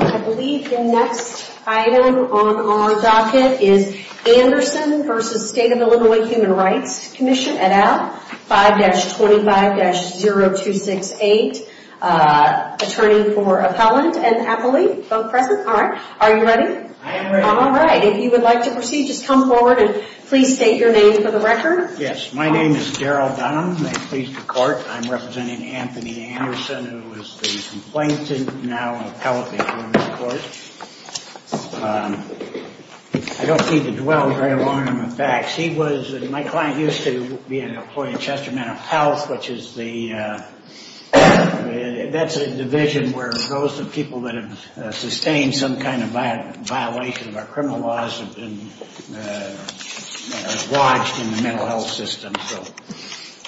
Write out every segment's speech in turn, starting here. I believe the next item on our docket is Anderson v. State of Illinois Human Rights Comm'n et al. 5-25-0268, attorney for appellant and appellee, both present. Alright, are you ready? I am ready. Alright, if you would like to proceed, just come forward and please state your name for the record. Yes, my name is Daryl Dunham, may it please the court. I'm representing Anthony Anderson, who is the complainant, now an appellate before the court. I don't need to dwell very long on the facts. He was, my client used to be an employee at Chester Mental Health, which is the, that's a division where those people that have sustained some kind of violation of our criminal laws have been lodged in the mental health system.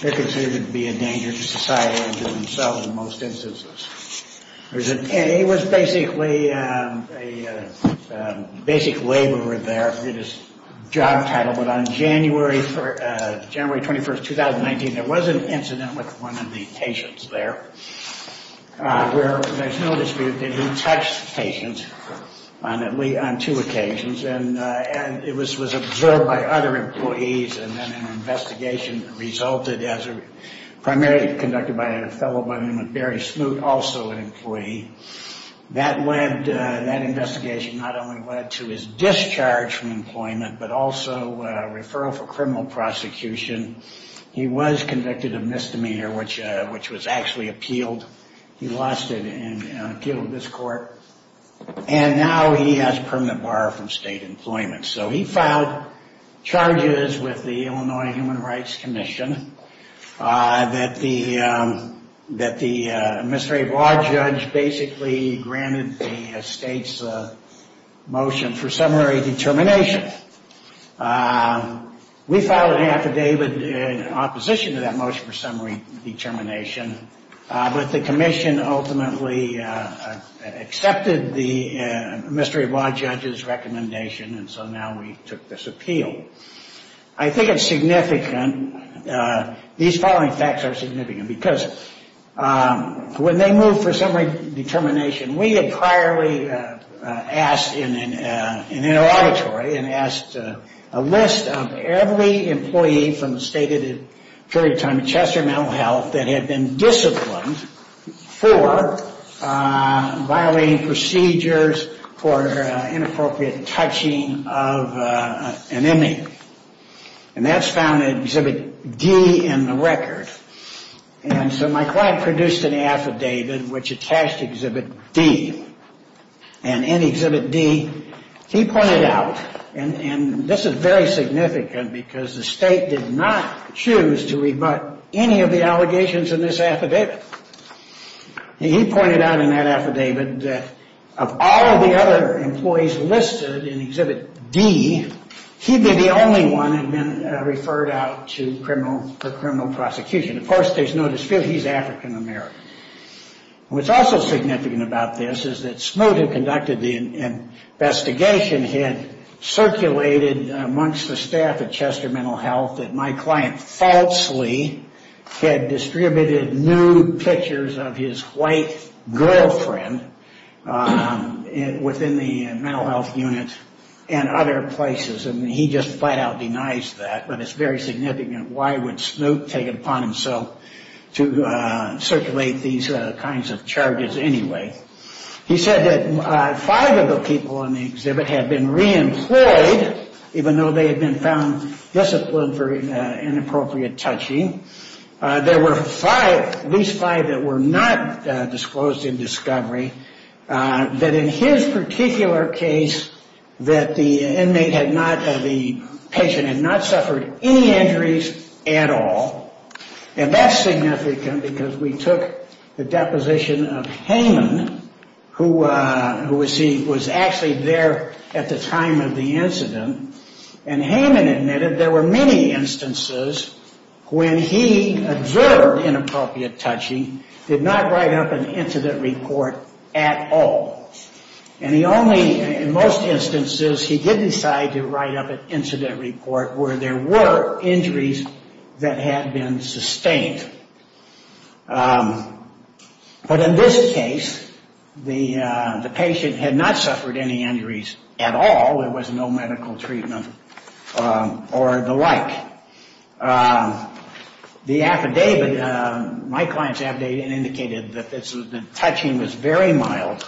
They're considered to be a danger to society and to themselves in most instances. He was basically a basic laborer there. It is job title, but on January 21st, 2019, there was an incident with one of the patients there. There's no dispute that he touched the patient on two occasions, and it was observed by other employees, and then an investigation resulted as a, primarily conducted by a fellow by the name of Barry Smoot, also an employee. That led, that investigation not only led to his discharge from employment, but also a referral for criminal prosecution. He was convicted of misdemeanor, which was actually appealed. He lost it in an appeal to this court, and now he has permanent bar from state employment. So he filed charges with the Illinois Human Rights Commission that the, that the administrative law judge basically granted the state's motion for summary determination. We filed an affidavit in opposition to that motion for summary determination, but the commission ultimately accepted the administrative law judge's recommendation, and so now we took this appeal. I think it's significant, these following facts are significant, because when they moved for summary determination, we had priorly asked in an auditory, and asked a list of every employee from the stated period of time in Chester Mental Health that had been disciplined for violating procedures for inappropriate touching of an inmate. And that's found in Exhibit D in the record. And so my client produced an affidavit which attached Exhibit D. And in Exhibit D, he pointed out, and this is very significant because the state did not choose to rebut any of the allegations in this affidavit. And he pointed out in that affidavit that of all of the other employees listed in Exhibit D, he'd be the only one that had been referred out to criminal, for criminal prosecution. Of course, there's no dispute, he's African American. What's also significant about this is that Smoot, who conducted the investigation, had circulated amongst the staff at Chester Mental Health that my client falsely had distributed nude pictures of his white girlfriend within the mental health unit and other places. And he just flat out denies that. But it's very significant. Why would Smoot take it upon himself to circulate these kinds of charges anyway? He said that five of the people in the exhibit had been reemployed, even though they had been found disciplined for inappropriate touching. There were five, at least five, that were not disclosed in discovery. That in his particular case, that the inmate had not, the patient had not suffered any injuries at all. And that's significant because we took the deposition of Hayman, who was actually there at the time of the incident. And Hayman admitted there were many instances when he adverted inappropriate touching, did not write up an incident report at all. And he only, in most instances, he did decide to write up an incident report where there were injuries that had been sustained. But in this case, the patient had not suffered any injuries at all. There was no medical treatment or the like. The affidavit, my client's affidavit indicated that the touching was very mild.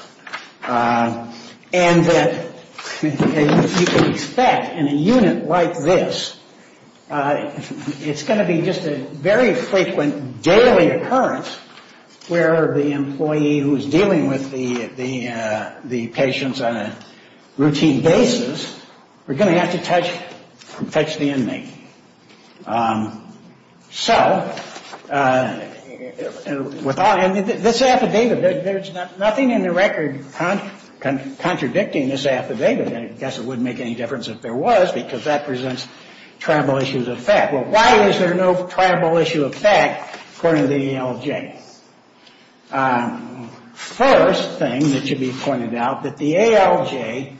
And that you can expect in a unit like this, it's going to be just a very frequent daily occurrence where the employee who is dealing with the patients on a routine basis, we're going to have to touch the inmate. So, this affidavit, there's nothing in the record contradicting this affidavit. I guess it wouldn't make any difference if there was because that presents tribal issues of fact. Well, why is there no tribal issue of fact according to the ALJ? First thing that should be pointed out, that the ALJ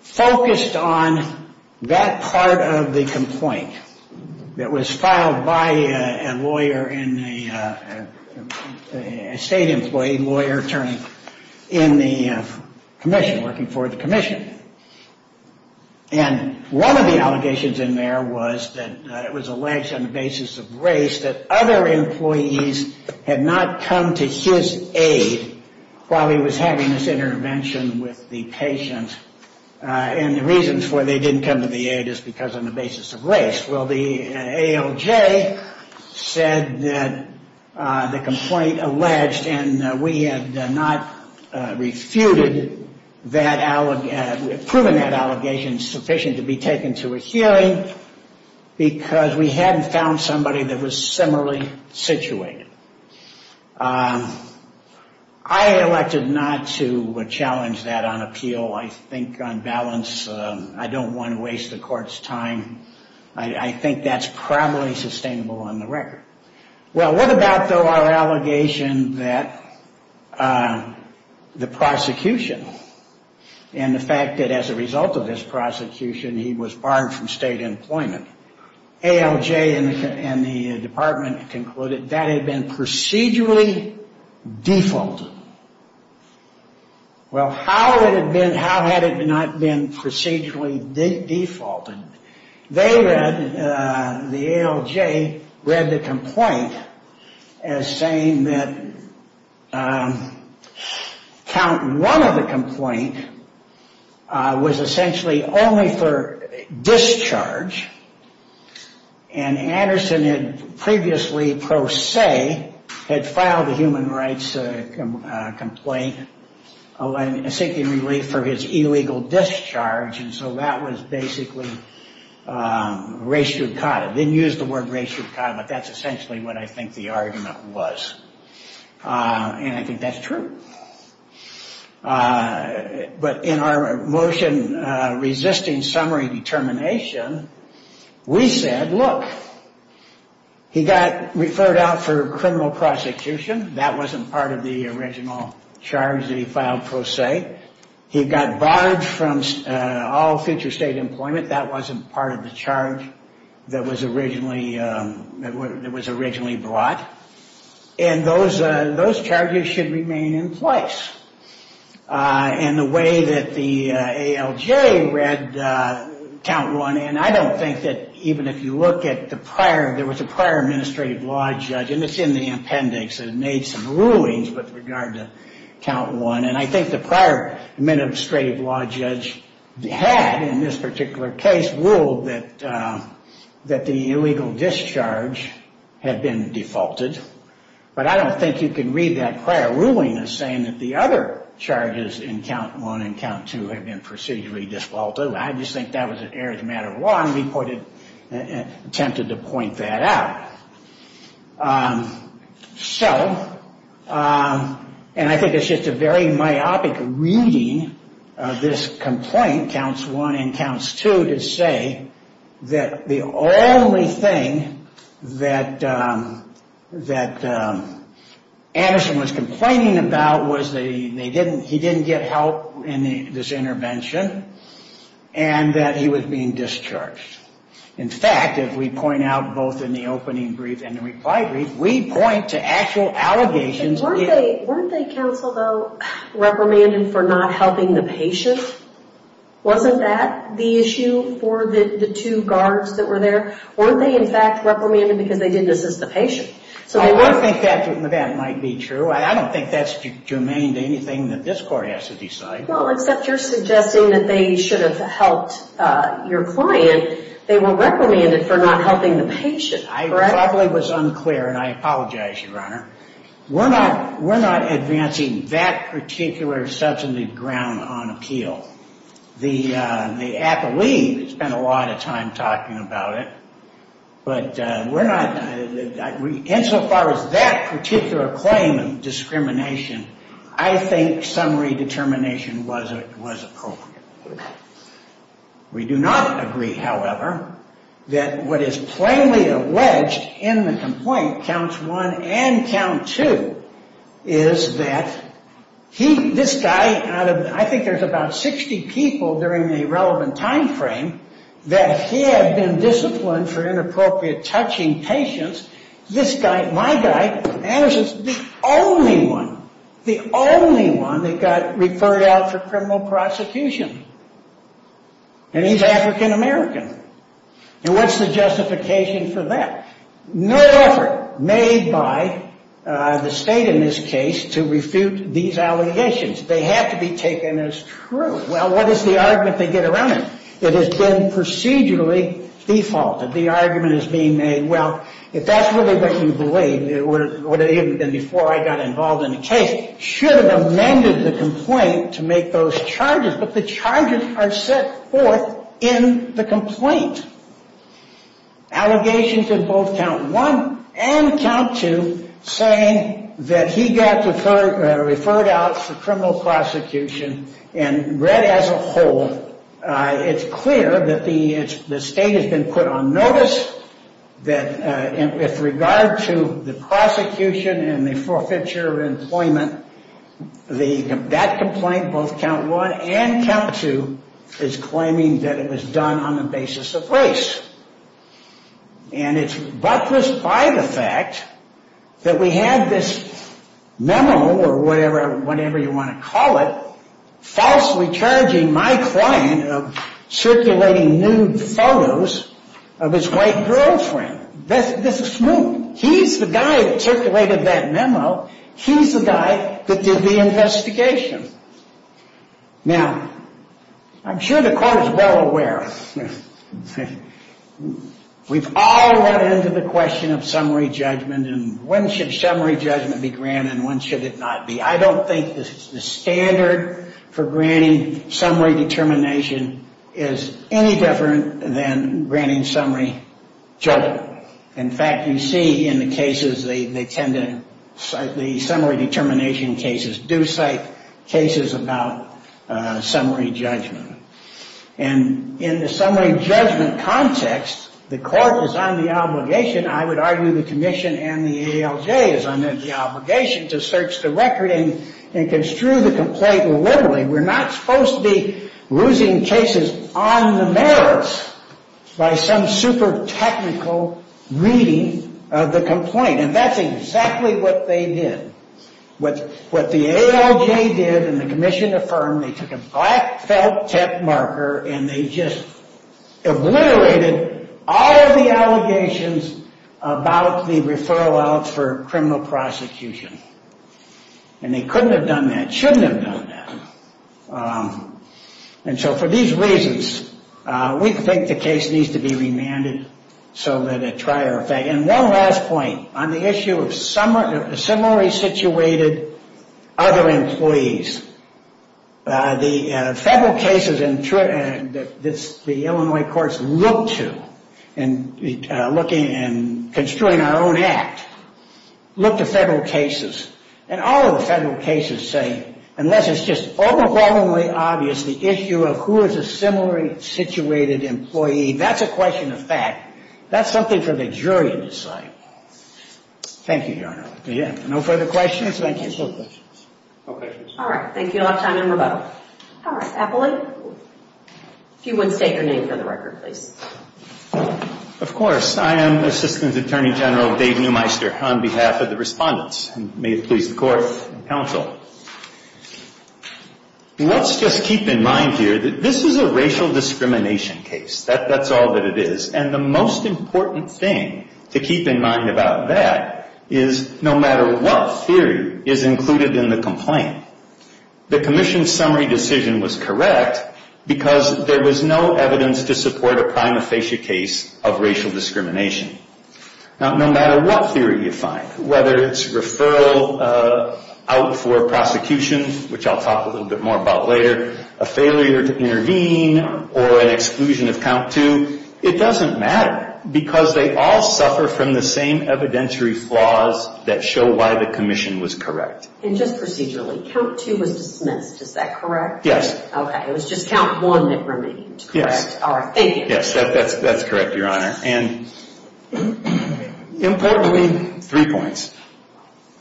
focused on that part of the complaint that was filed by a lawyer in a state employee, lawyer turning in the commission, working for the commission. And one of the allegations in there was that it was alleged on the basis of race that other employees had not come to his aid while he was having this intervention with the patient. And the reasons why they didn't come to the aid is because on the basis of race. Well, the ALJ said that the complaint alleged and we had not refuted that allegation. We had proven that allegation sufficient to be taken to a hearing because we hadn't found somebody that was similarly situated. I elected not to challenge that on appeal. I think on balance, I don't want to waste the court's time. I think that's probably sustainable on the record. And the fact that as a result of this prosecution, he was barred from state employment. ALJ and the department concluded that had been procedurally defaulted. Well, how had it not been procedurally defaulted? They read, the ALJ read the complaint as saying that count one of the complaint was essentially only for discharge. And Anderson had previously, pro se, had filed a human rights complaint seeking relief for his illegal discharge. And so that was basically raciocata. Didn't use the word raciocata, but that's essentially what I think the argument was. And I think that's true. And those charges should remain in place in the way that the ALJ read count one. And I don't think that even if you look at the prior, there was a prior administrative law judge, and it's in the appendix. It made some rulings with regard to count one. And I think the prior administrative law judge had, in this particular case, ruled that the illegal discharge had been defaulted. And I don't think you can read that prior ruling as saying that the other charges in count one and count two have been procedurally defaulted. I just think that was an arithmetic one. We put it, attempted to point that out. So, and I think it's just a very myopic reading of this complaint, counts one and counts two, to say that the only thing that Anderson was complaining about was that he didn't get help in this intervention, and that he was being discharged. In fact, if we point out both in the opening brief and the reply brief, we point to actual allegations. Weren't they counsel, though, reprimanded for not helping the patient? Wasn't that the issue for the two guards that were there? Weren't they, in fact, reprimanded because they didn't assist the patient? I don't think that might be true. I don't think that's germane to anything that this court has to decide. Well, except you're suggesting that they should have helped your client. They were reprimanded for not helping the patient. I probably was unclear, and I apologize, Your Honor. We're not advancing that particular substantive ground on appeal. The athlete spent a lot of time talking about it. But we're not, insofar as that particular claim of discrimination, I think summary determination was appropriate. We do not agree, however, that what is plainly alleged in the complaint, counts one and count two, is that this guy, out of, I think there's about 60 people during the relevant time frame, that had been disciplined for inappropriate touching patients, this guy, my guy, Anderson, is the only one, the only one that got referred out for criminal prosecution. And he's African American. And what's the justification for that? No effort made by the state in this case to refute these allegations. They have to be taken as true. Well, what is the argument they get around it? It has been procedurally defaulted. The argument is being made, well, if that's really what you believe, then before I got involved in the case, should have amended the complaint to make those charges. But the charges are set forth in the complaint. Allegations in both count one and count two saying that he got referred out for criminal prosecution. And read as a whole, it's clear that the state has been put on notice that with regard to the prosecution and the forfeiture of employment, that complaint, both count one and count two, is claiming that it was done on the basis of race. And it's buttressed by the fact that we had this memo, or whatever you want to call it, falsely charging my client of circulating nude photos of his white girlfriend. This is smooth. He's the guy that circulated that memo. He's the guy that did the investigation. Now, I'm sure the court is well aware, we've all run into the question of summary judgment and when should summary judgment be granted and when should it not be. I don't think the standard for granting summary determination is any different than granting summary judgment. In fact, you see in the cases, they tend to cite the summary determination cases, do cite cases about summary judgment. And in the summary judgment context, the court is on the obligation, I would argue the commission and the ALJ, is on the obligation to search the record and construe the complaint liberally. We're not supposed to be losing cases on the merits by some super technical reading of the complaint. And that's exactly what they did. What the ALJ did and the commission affirmed, they took a black felt tip marker and they just obliterated all of the allegations about the referral out for criminal prosecution. And they couldn't have done that, shouldn't have done that. And so for these reasons, we think the case needs to be remanded so that a trier effect. And one last point on the issue of summary situated other employees. The federal cases that the Illinois courts look to, and looking and construing our own act, look to federal cases. And all of the federal cases say, unless it's just overwhelmingly obvious the issue of who is a summary situated employee, that's a question of fact. That's something for the jury to decide. Thank you, Your Honor. No further questions? Thank you. No questions. All right. Thank you a lot of time and rebuttal. If you wouldn't state your name for the record, please. Let's just keep in mind here that this is a racial discrimination case. That's all that it is. And the most important thing to keep in mind about that is no matter what theory is included in the complaint, the commission's summary decision was correct because there was no evidence to support a prima facie case of racial discrimination. Now, no matter what theory you find, whether it's referral out for prosecution, which I'll talk a little bit more about later, a failure to intervene, or an exclusion of count two, it doesn't matter. Because they all suffer from the same evidentiary flaws that show why the commission was correct. And just procedurally, count two was dismissed, is that correct? Yes. Okay. It was just count one that remained, correct? Yes. All right. Thank you. Yes, that's correct, Your Honor. And importantly, three points.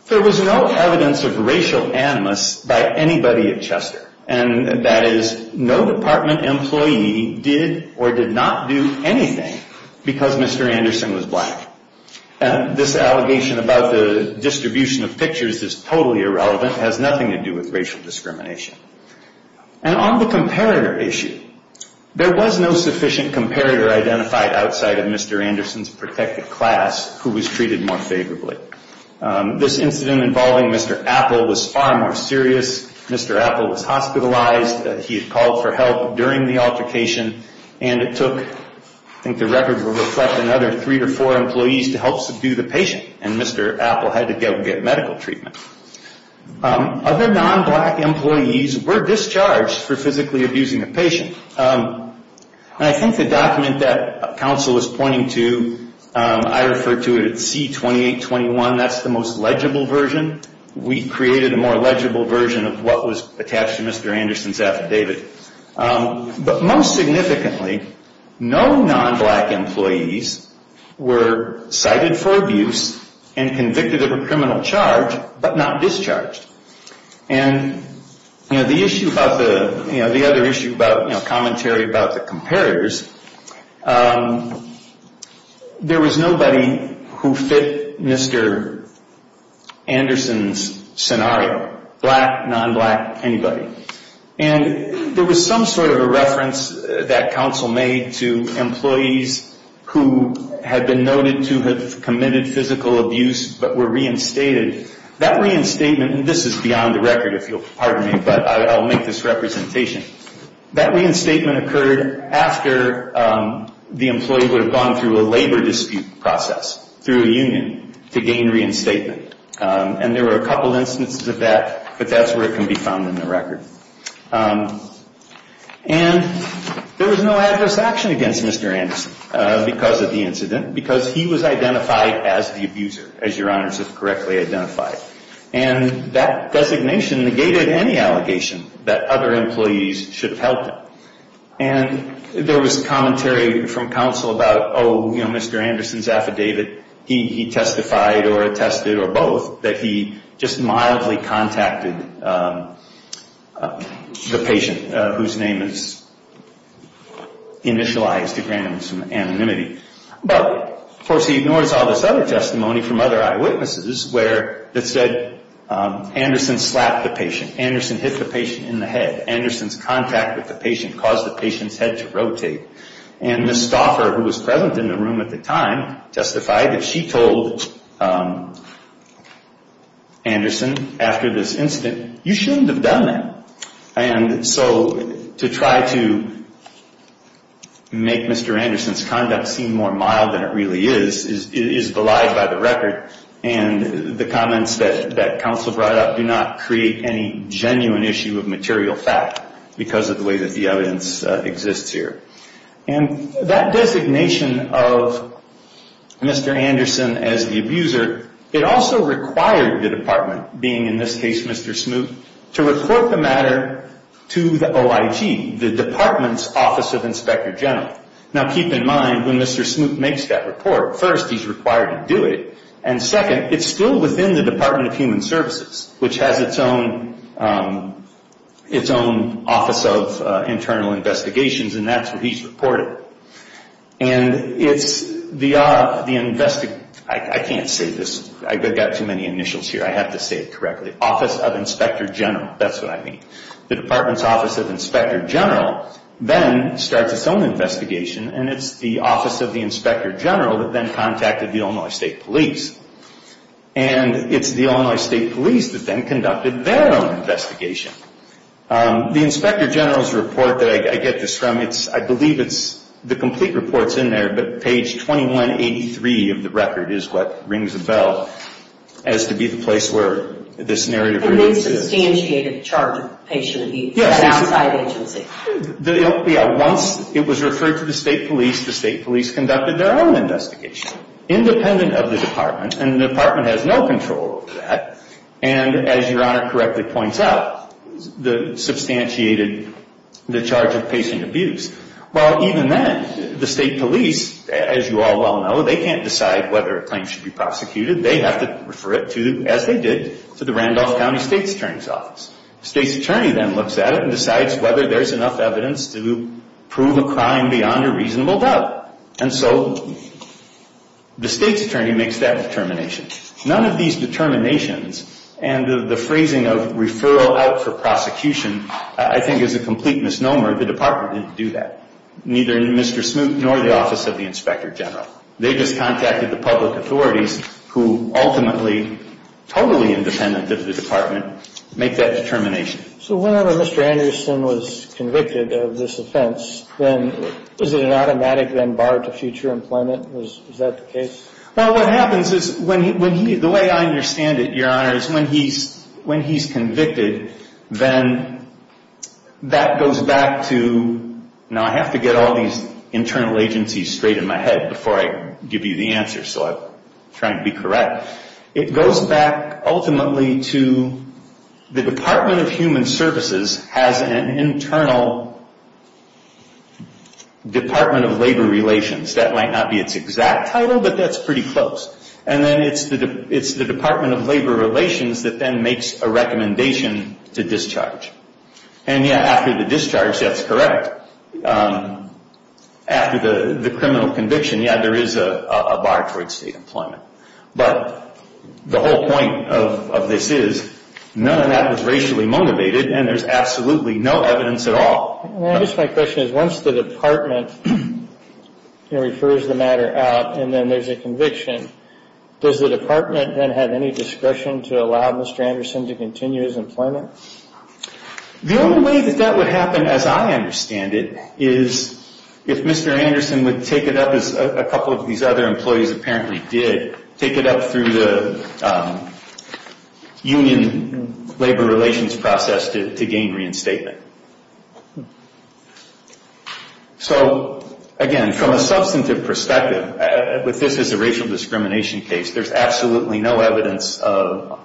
There was no evidence of racial animus by anybody at Chester. And that is no department employee did or did not do anything because Mr. Anderson was black. And this allegation about the distribution of pictures is totally irrelevant, has nothing to do with racial discrimination. And on the comparator issue, there was no sufficient comparator identified outside of Mr. Anderson's protected class who was treated more favorably. This incident involving Mr. Apple was far more serious. Mr. Apple was hospitalized. He had called for help during the altercation, and it took, I think the record will reflect, another three to four employees to help subdue the patient. And Mr. Apple had to go get medical treatment. Other non-black employees were discharged for physically abusing the patient. And I think the document that counsel was pointing to, I refer to it as C-2821, that's the most legible version. We created a more legible version of what was attached to Mr. Anderson's affidavit. But most significantly, no non-black employees were cited for abuse and convicted of a criminal charge, but not discharged. And the other issue about commentary about the comparators, there was nobody who fit Mr. Anderson's scenario, black, non-black, anybody. And there was some sort of a reference that counsel made to employees who had been noted to have committed physical abuse but were reinstated. That reinstatement, and this is beyond the record, if you'll pardon me, but I'll make this representation. That reinstatement occurred after the employee would have gone through a labor dispute process through a union to gain reinstatement. And there were a couple instances of that, but that's where it can be found in the record. And there was no adverse action against Mr. Anderson because of the incident, because he was identified as the abuser, as Your Honors has correctly identified. And that designation negated any allegation that other employees should have helped him. And there was commentary from counsel about, oh, you know, Mr. Anderson's affidavit, he testified or attested or brought it forward. Or both, that he just mildly contacted the patient whose name is initialized to grant him some anonymity. But, of course, he ignores all this other testimony from other eyewitnesses where it said Anderson slapped the patient, Anderson hit the patient in the head. Anderson's contact with the patient caused the patient's head to rotate. And Ms. Stauffer, who was present in the room at the time, testified that she told Anderson after this incident, you shouldn't have done that. And so to try to make Mr. Anderson's conduct seem more mild than it really is, is belied by the record. And the comments that counsel brought up do not create any genuine issue of material fact because of the way that the evidence exists here. And that designation of Mr. Anderson as the abuser, it also required the department, being in this case Mr. Smoot, to report the matter to the OIG, the department's Office of Inspector General. Now keep in mind, when Mr. Smoot makes that report, first he's required to do it, and second, it's still within the Department of Human Services, which has its own Office of Internal Investigations, and that's what he's required to do. And it's the, I can't say this, I've got too many initials here, I have to say it correctly, Office of Inspector General, that's what I mean. The department's Office of Inspector General then starts its own investigation, and it's the Office of the Inspector General that then contacted the Illinois State Police. And it's the Illinois State Police that then conducted their own investigation. The Inspector General's report that I get this from, it's, I believe it's, the complete report's in there, but page 2183 of the record is what rings a bell, as to be the place where this narrative really exists. Yeah, once it was referred to the State Police, the State Police conducted their own investigation, independent of the department, and the department has no control over that, and as Your Honor correctly points out, the substantiated, the charge of patient abuse. Well, even then, the State Police, as you all well know, they can't decide whether a claim should be prosecuted. They have to refer it to, as they did, to the Randolph County State's Attorney's Office. The State's Attorney then looks at it and decides whether there's enough evidence to prove a crime beyond a reasonable doubt. And so the State's Attorney makes that determination. None of these determinations and the phrasing of referral out for prosecution, I think, is a complete misnomer. The department didn't do that, neither Mr. Smoot nor the Office of the Inspector General. They just contacted the public authorities, who ultimately, totally independent of the department, make that determination. So whenever Mr. Anderson was convicted of this offense, then is it an automatic, then, bar to future employment? Is that the case? Well, what happens is, when he, the way I understand it, Your Honor, is when he's convicted, then that goes back to, now I have to get all these internal agencies straight in my head before I give you the answer, so I'm trying to be correct. It goes back, ultimately, to the Department of Human Services has an internal Department of Labor Relations. That might not be its exact title, but that's pretty close. And then it's the Department of Labor Relations that then makes a recommendation to discharge. And yeah, after the discharge, that's correct. After the criminal conviction, yeah, there is a bar towards state employment. But the whole point of this is, none of that was racially motivated, and there's absolutely no evidence at all. My question is, once the department refers the matter out and then there's a conviction, does the department then have any discretion to allow Mr. Anderson to continue his employment? The only way that that would happen, as I understand it, is if Mr. Anderson would take it up, as a couple of these other employees apparently did, take it up through the union labor relations process to gain reinstatement. So, again, from a substantive perspective, with this as a racial discrimination case, there's absolutely no evidence of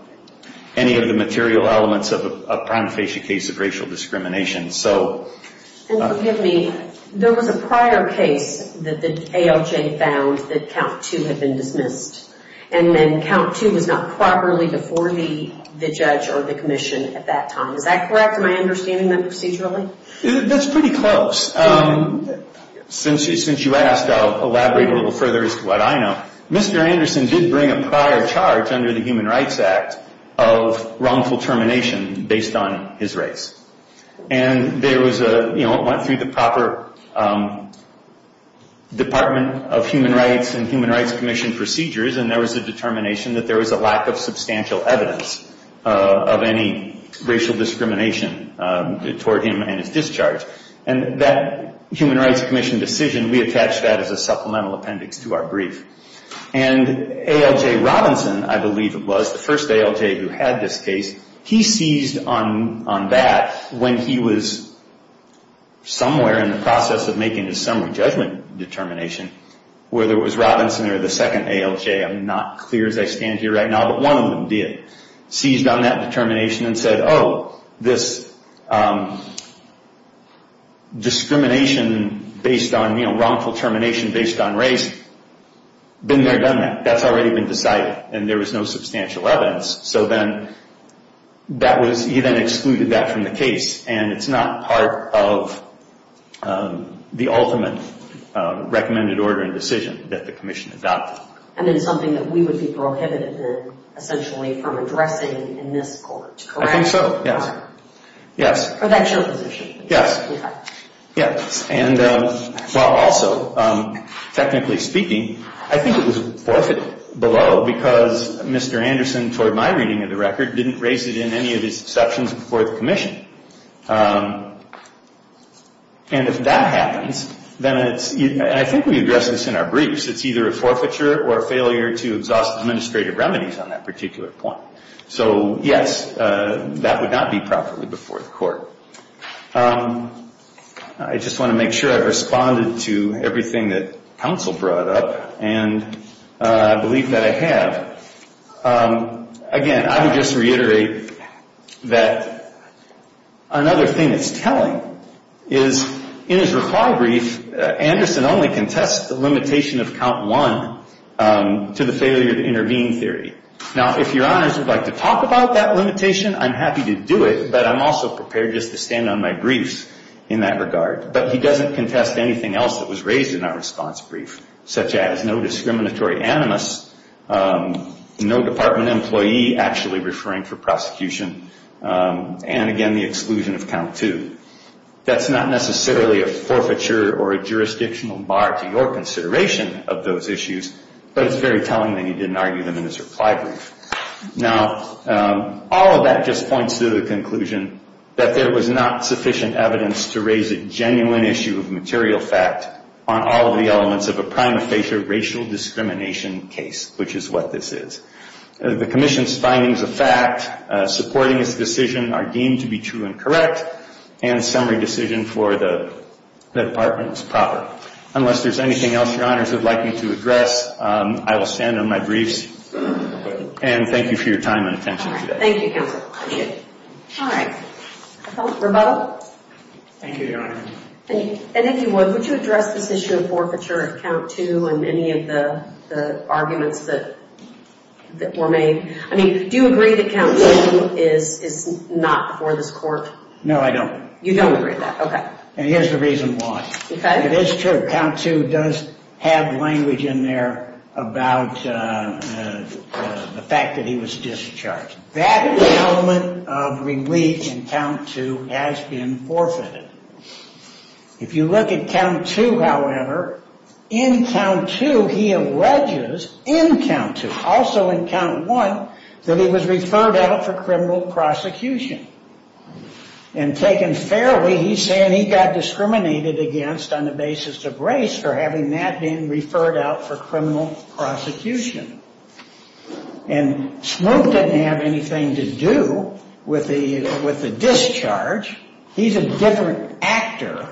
any of the material elements of a prime facie case of racial discrimination. And forgive me, there was a prior case that the ALJ found that Count 2 had been dismissed. And then Count 2 was not properly before the judge or the commission at that time. Is that correct? Am I understanding that procedurally? That's pretty close. Since you asked, I'll elaborate a little further as to what I know. Mr. Anderson did bring a prior charge under the Human Rights Act of wrongful termination based on his race. And there was a, you know, it went through the proper Department of Human Rights and Human Rights Commission procedures, and there was a determination that there was a lack of substantial evidence of any racial discrimination toward him and his discharge. And that Human Rights Commission decision, we attached that as a supplemental appendix to our brief. And ALJ Robinson, I believe it was, the first ALJ who had this case, he seized on that when he was somewhere in the process of making his summary judgment determination, whether it was Robinson or the second ALJ, I'm not clear as I stand here right now, but one of them did. Seized on that determination and said, oh, this discrimination based on, you know, wrongful termination based on race, been there, done that. That's already been decided. And there was no substantial evidence. So then that was, he then excluded that from the case. And it's not part of the ultimate recommended order and decision that the commission adopted. And it's something that we would be prohibited essentially from addressing in this court, correct? I think so. Yes. Yes. Yes. And also, technically speaking, I think it was forfeit below because Mr. Anderson, toward my reading of the record, didn't raise it in any of his exceptions before the commission. And if that happens, then it's, I think we address this in our briefs, it's either a forfeiture or a failure to exhaust administrative remedies on that particular point. So, yes, that would not be properly before the court. I just want to make sure I've responded to everything that counsel brought up, and I believe that I have. Again, I would just reiterate that another thing that's telling is, in his recall brief, Anderson only contests the limitation of count one to the failure to intervene theory. Now, if your honors would like to talk about that limitation, I'm happy to do it, but I'm also prepared just to stand on my briefs in that regard. But he doesn't contest anything else that was raised in our response brief, such as no discriminatory animus, no department employee actually referring for prosecution, and, again, the exclusion of count two. That's not necessarily a forfeiture or a jurisdictional bar to your consideration of those issues, but it's very telling that he didn't argue them in his reply brief. Now, all of that just points to the conclusion that there was not sufficient evidence to raise a genuine issue of material fact on all of the elements of a prima facie racial discrimination case, which is what this is. The commission's findings of fact supporting its decision are deemed to be true and correct, and summary decision for the department is proper. Unless there's anything else your honors would like me to address, I will stand on my briefs, and thank you for your time and attention today. Thank you, counsel. All right. Rebuttal? Thank you, your honor. And if you would, would you address this issue of forfeiture of count two and any of the arguments that were made? I mean, do you agree that count two is not before this court? No, I don't. You don't agree with that. Okay. And here's the reason why. Okay. It is true. Count two does have language in there about the fact that he was discharged. That element of relief in count two has been forfeited. If you look at count two, however, in count two he alleges, in count two, also in count one, that he was referred out for criminal prosecution. And taken fairly, he's saying he got discriminated against on the basis of race for having that being referred out for criminal prosecution. And Smoak didn't have anything to do with the discharge. He's a different actor.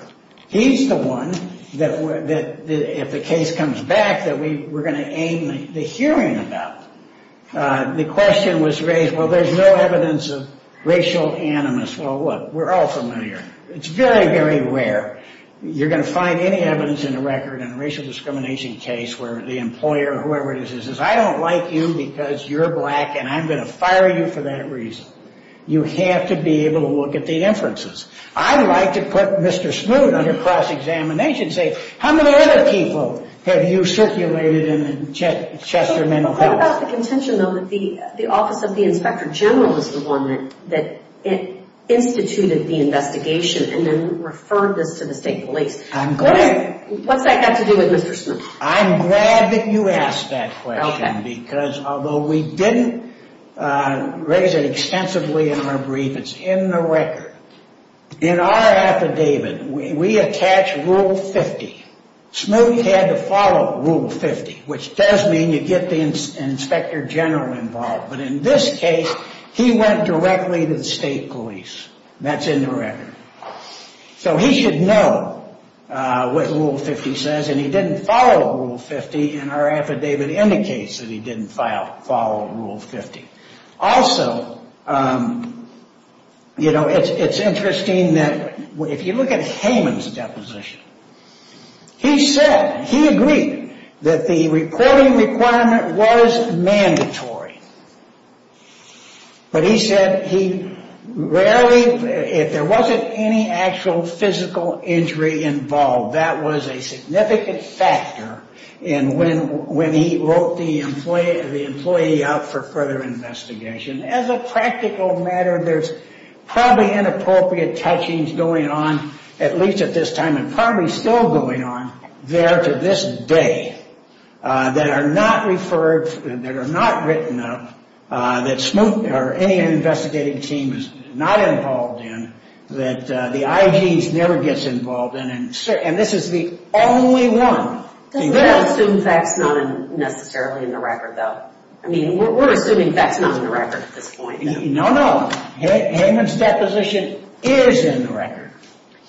He's the one that, if the case comes back, that we're going to aim the hearing about. The question was raised, well, there's no evidence of racial animus. Well, look, we're all familiar. It's very, very rare. You're going to find any evidence in the record in a racial discrimination case where the employer or whoever it is says, I don't like you because you're black and I'm going to fire you for that reason. You have to be able to look at the inferences. I'd like to put Mr. Smoak under cross-examination and say, how many other people have you circulated in the Chester Mental Health? What about the contention, though, that the Office of the Inspector General is the one that instituted the investigation and then referred this to the state police? I'm glad. What's that got to do with Mr. Smoak? I'm glad that you asked that question because although we didn't raise it extensively in our brief, it's in the record. In our affidavit, we attach Rule 50. Smoak had to follow Rule 50, which does mean you get the Inspector General involved. But in this case, he went directly to the state police. That's in the record. So he should know what Rule 50 says, and he didn't follow Rule 50, and our affidavit indicates that he didn't follow Rule 50. Also, you know, it's interesting that if you look at Hayman's deposition, he said he agreed that the reporting requirement was mandatory. But he said he rarely, if there wasn't any actual physical injury involved, that was a significant factor in when he wrote the employee out for further investigation. As a practical matter, there's probably inappropriate touchings going on, at least at this time and probably still going on there to this day, that are not referred, that are not written up, that any investigating team is not involved in, that the IGs never gets involved in, and this is the only one. We don't assume that's not necessarily in the record, though. I mean, we're assuming that's not in the record at this point. No, no. Hayman's deposition is in the record.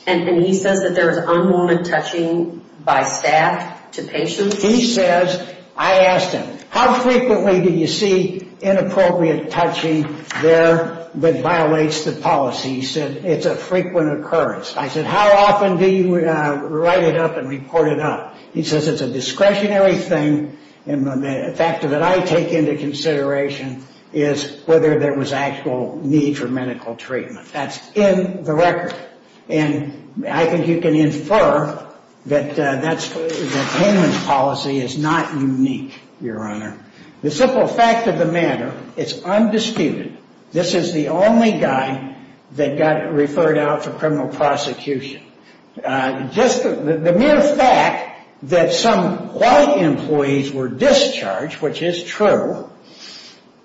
And he says that there is unlawful touching by staff to patients? He says, I asked him, how frequently do you see inappropriate touching there that violates the policy? He said, it's a frequent occurrence. I said, how often do you write it up and report it up? He says, it's a discretionary thing, and the factor that I take into consideration is whether there was actual need for medical treatment. That's in the record. And I think you can infer that Hayman's policy is not unique, Your Honor. The simple fact of the matter, it's undisputed, this is the only guy that got referred out for criminal prosecution. Just the mere fact that some white employees were discharged, which is true,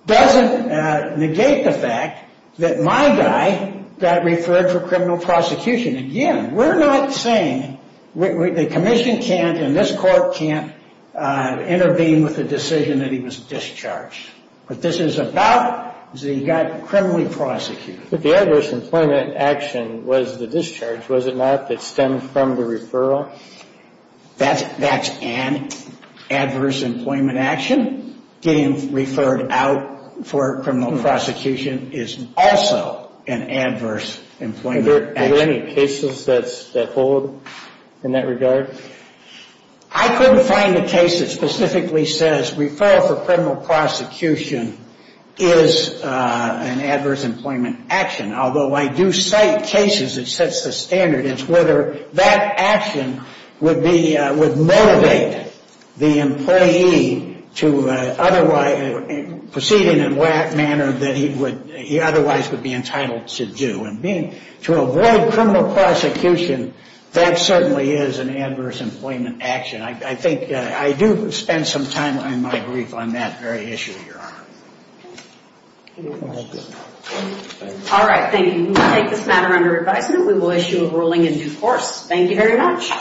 doesn't negate the fact that my guy got referred for criminal prosecution. Again, we're not saying the commission can't and this court can't intervene with the decision that he was discharged. What this is about is that he got criminally prosecuted. But the adverse employment action was the discharge, was it not, that stemmed from the referral? That's an adverse employment action. Getting referred out for criminal prosecution is also an adverse employment action. Are there any cases that hold in that regard? I couldn't find a case that specifically says referral for criminal prosecution is an adverse employment action. Although I do cite cases that sets the standard as whether that action would be, would motivate the employee to proceed in a manner that he otherwise would be entitled to do. To avoid criminal prosecution, that certainly is an adverse employment action. I do spend some time in my brief on that very issue, Your Honor. All right, thank you. We will take this matter under advisement. We will issue a ruling in due course. Thank you very much.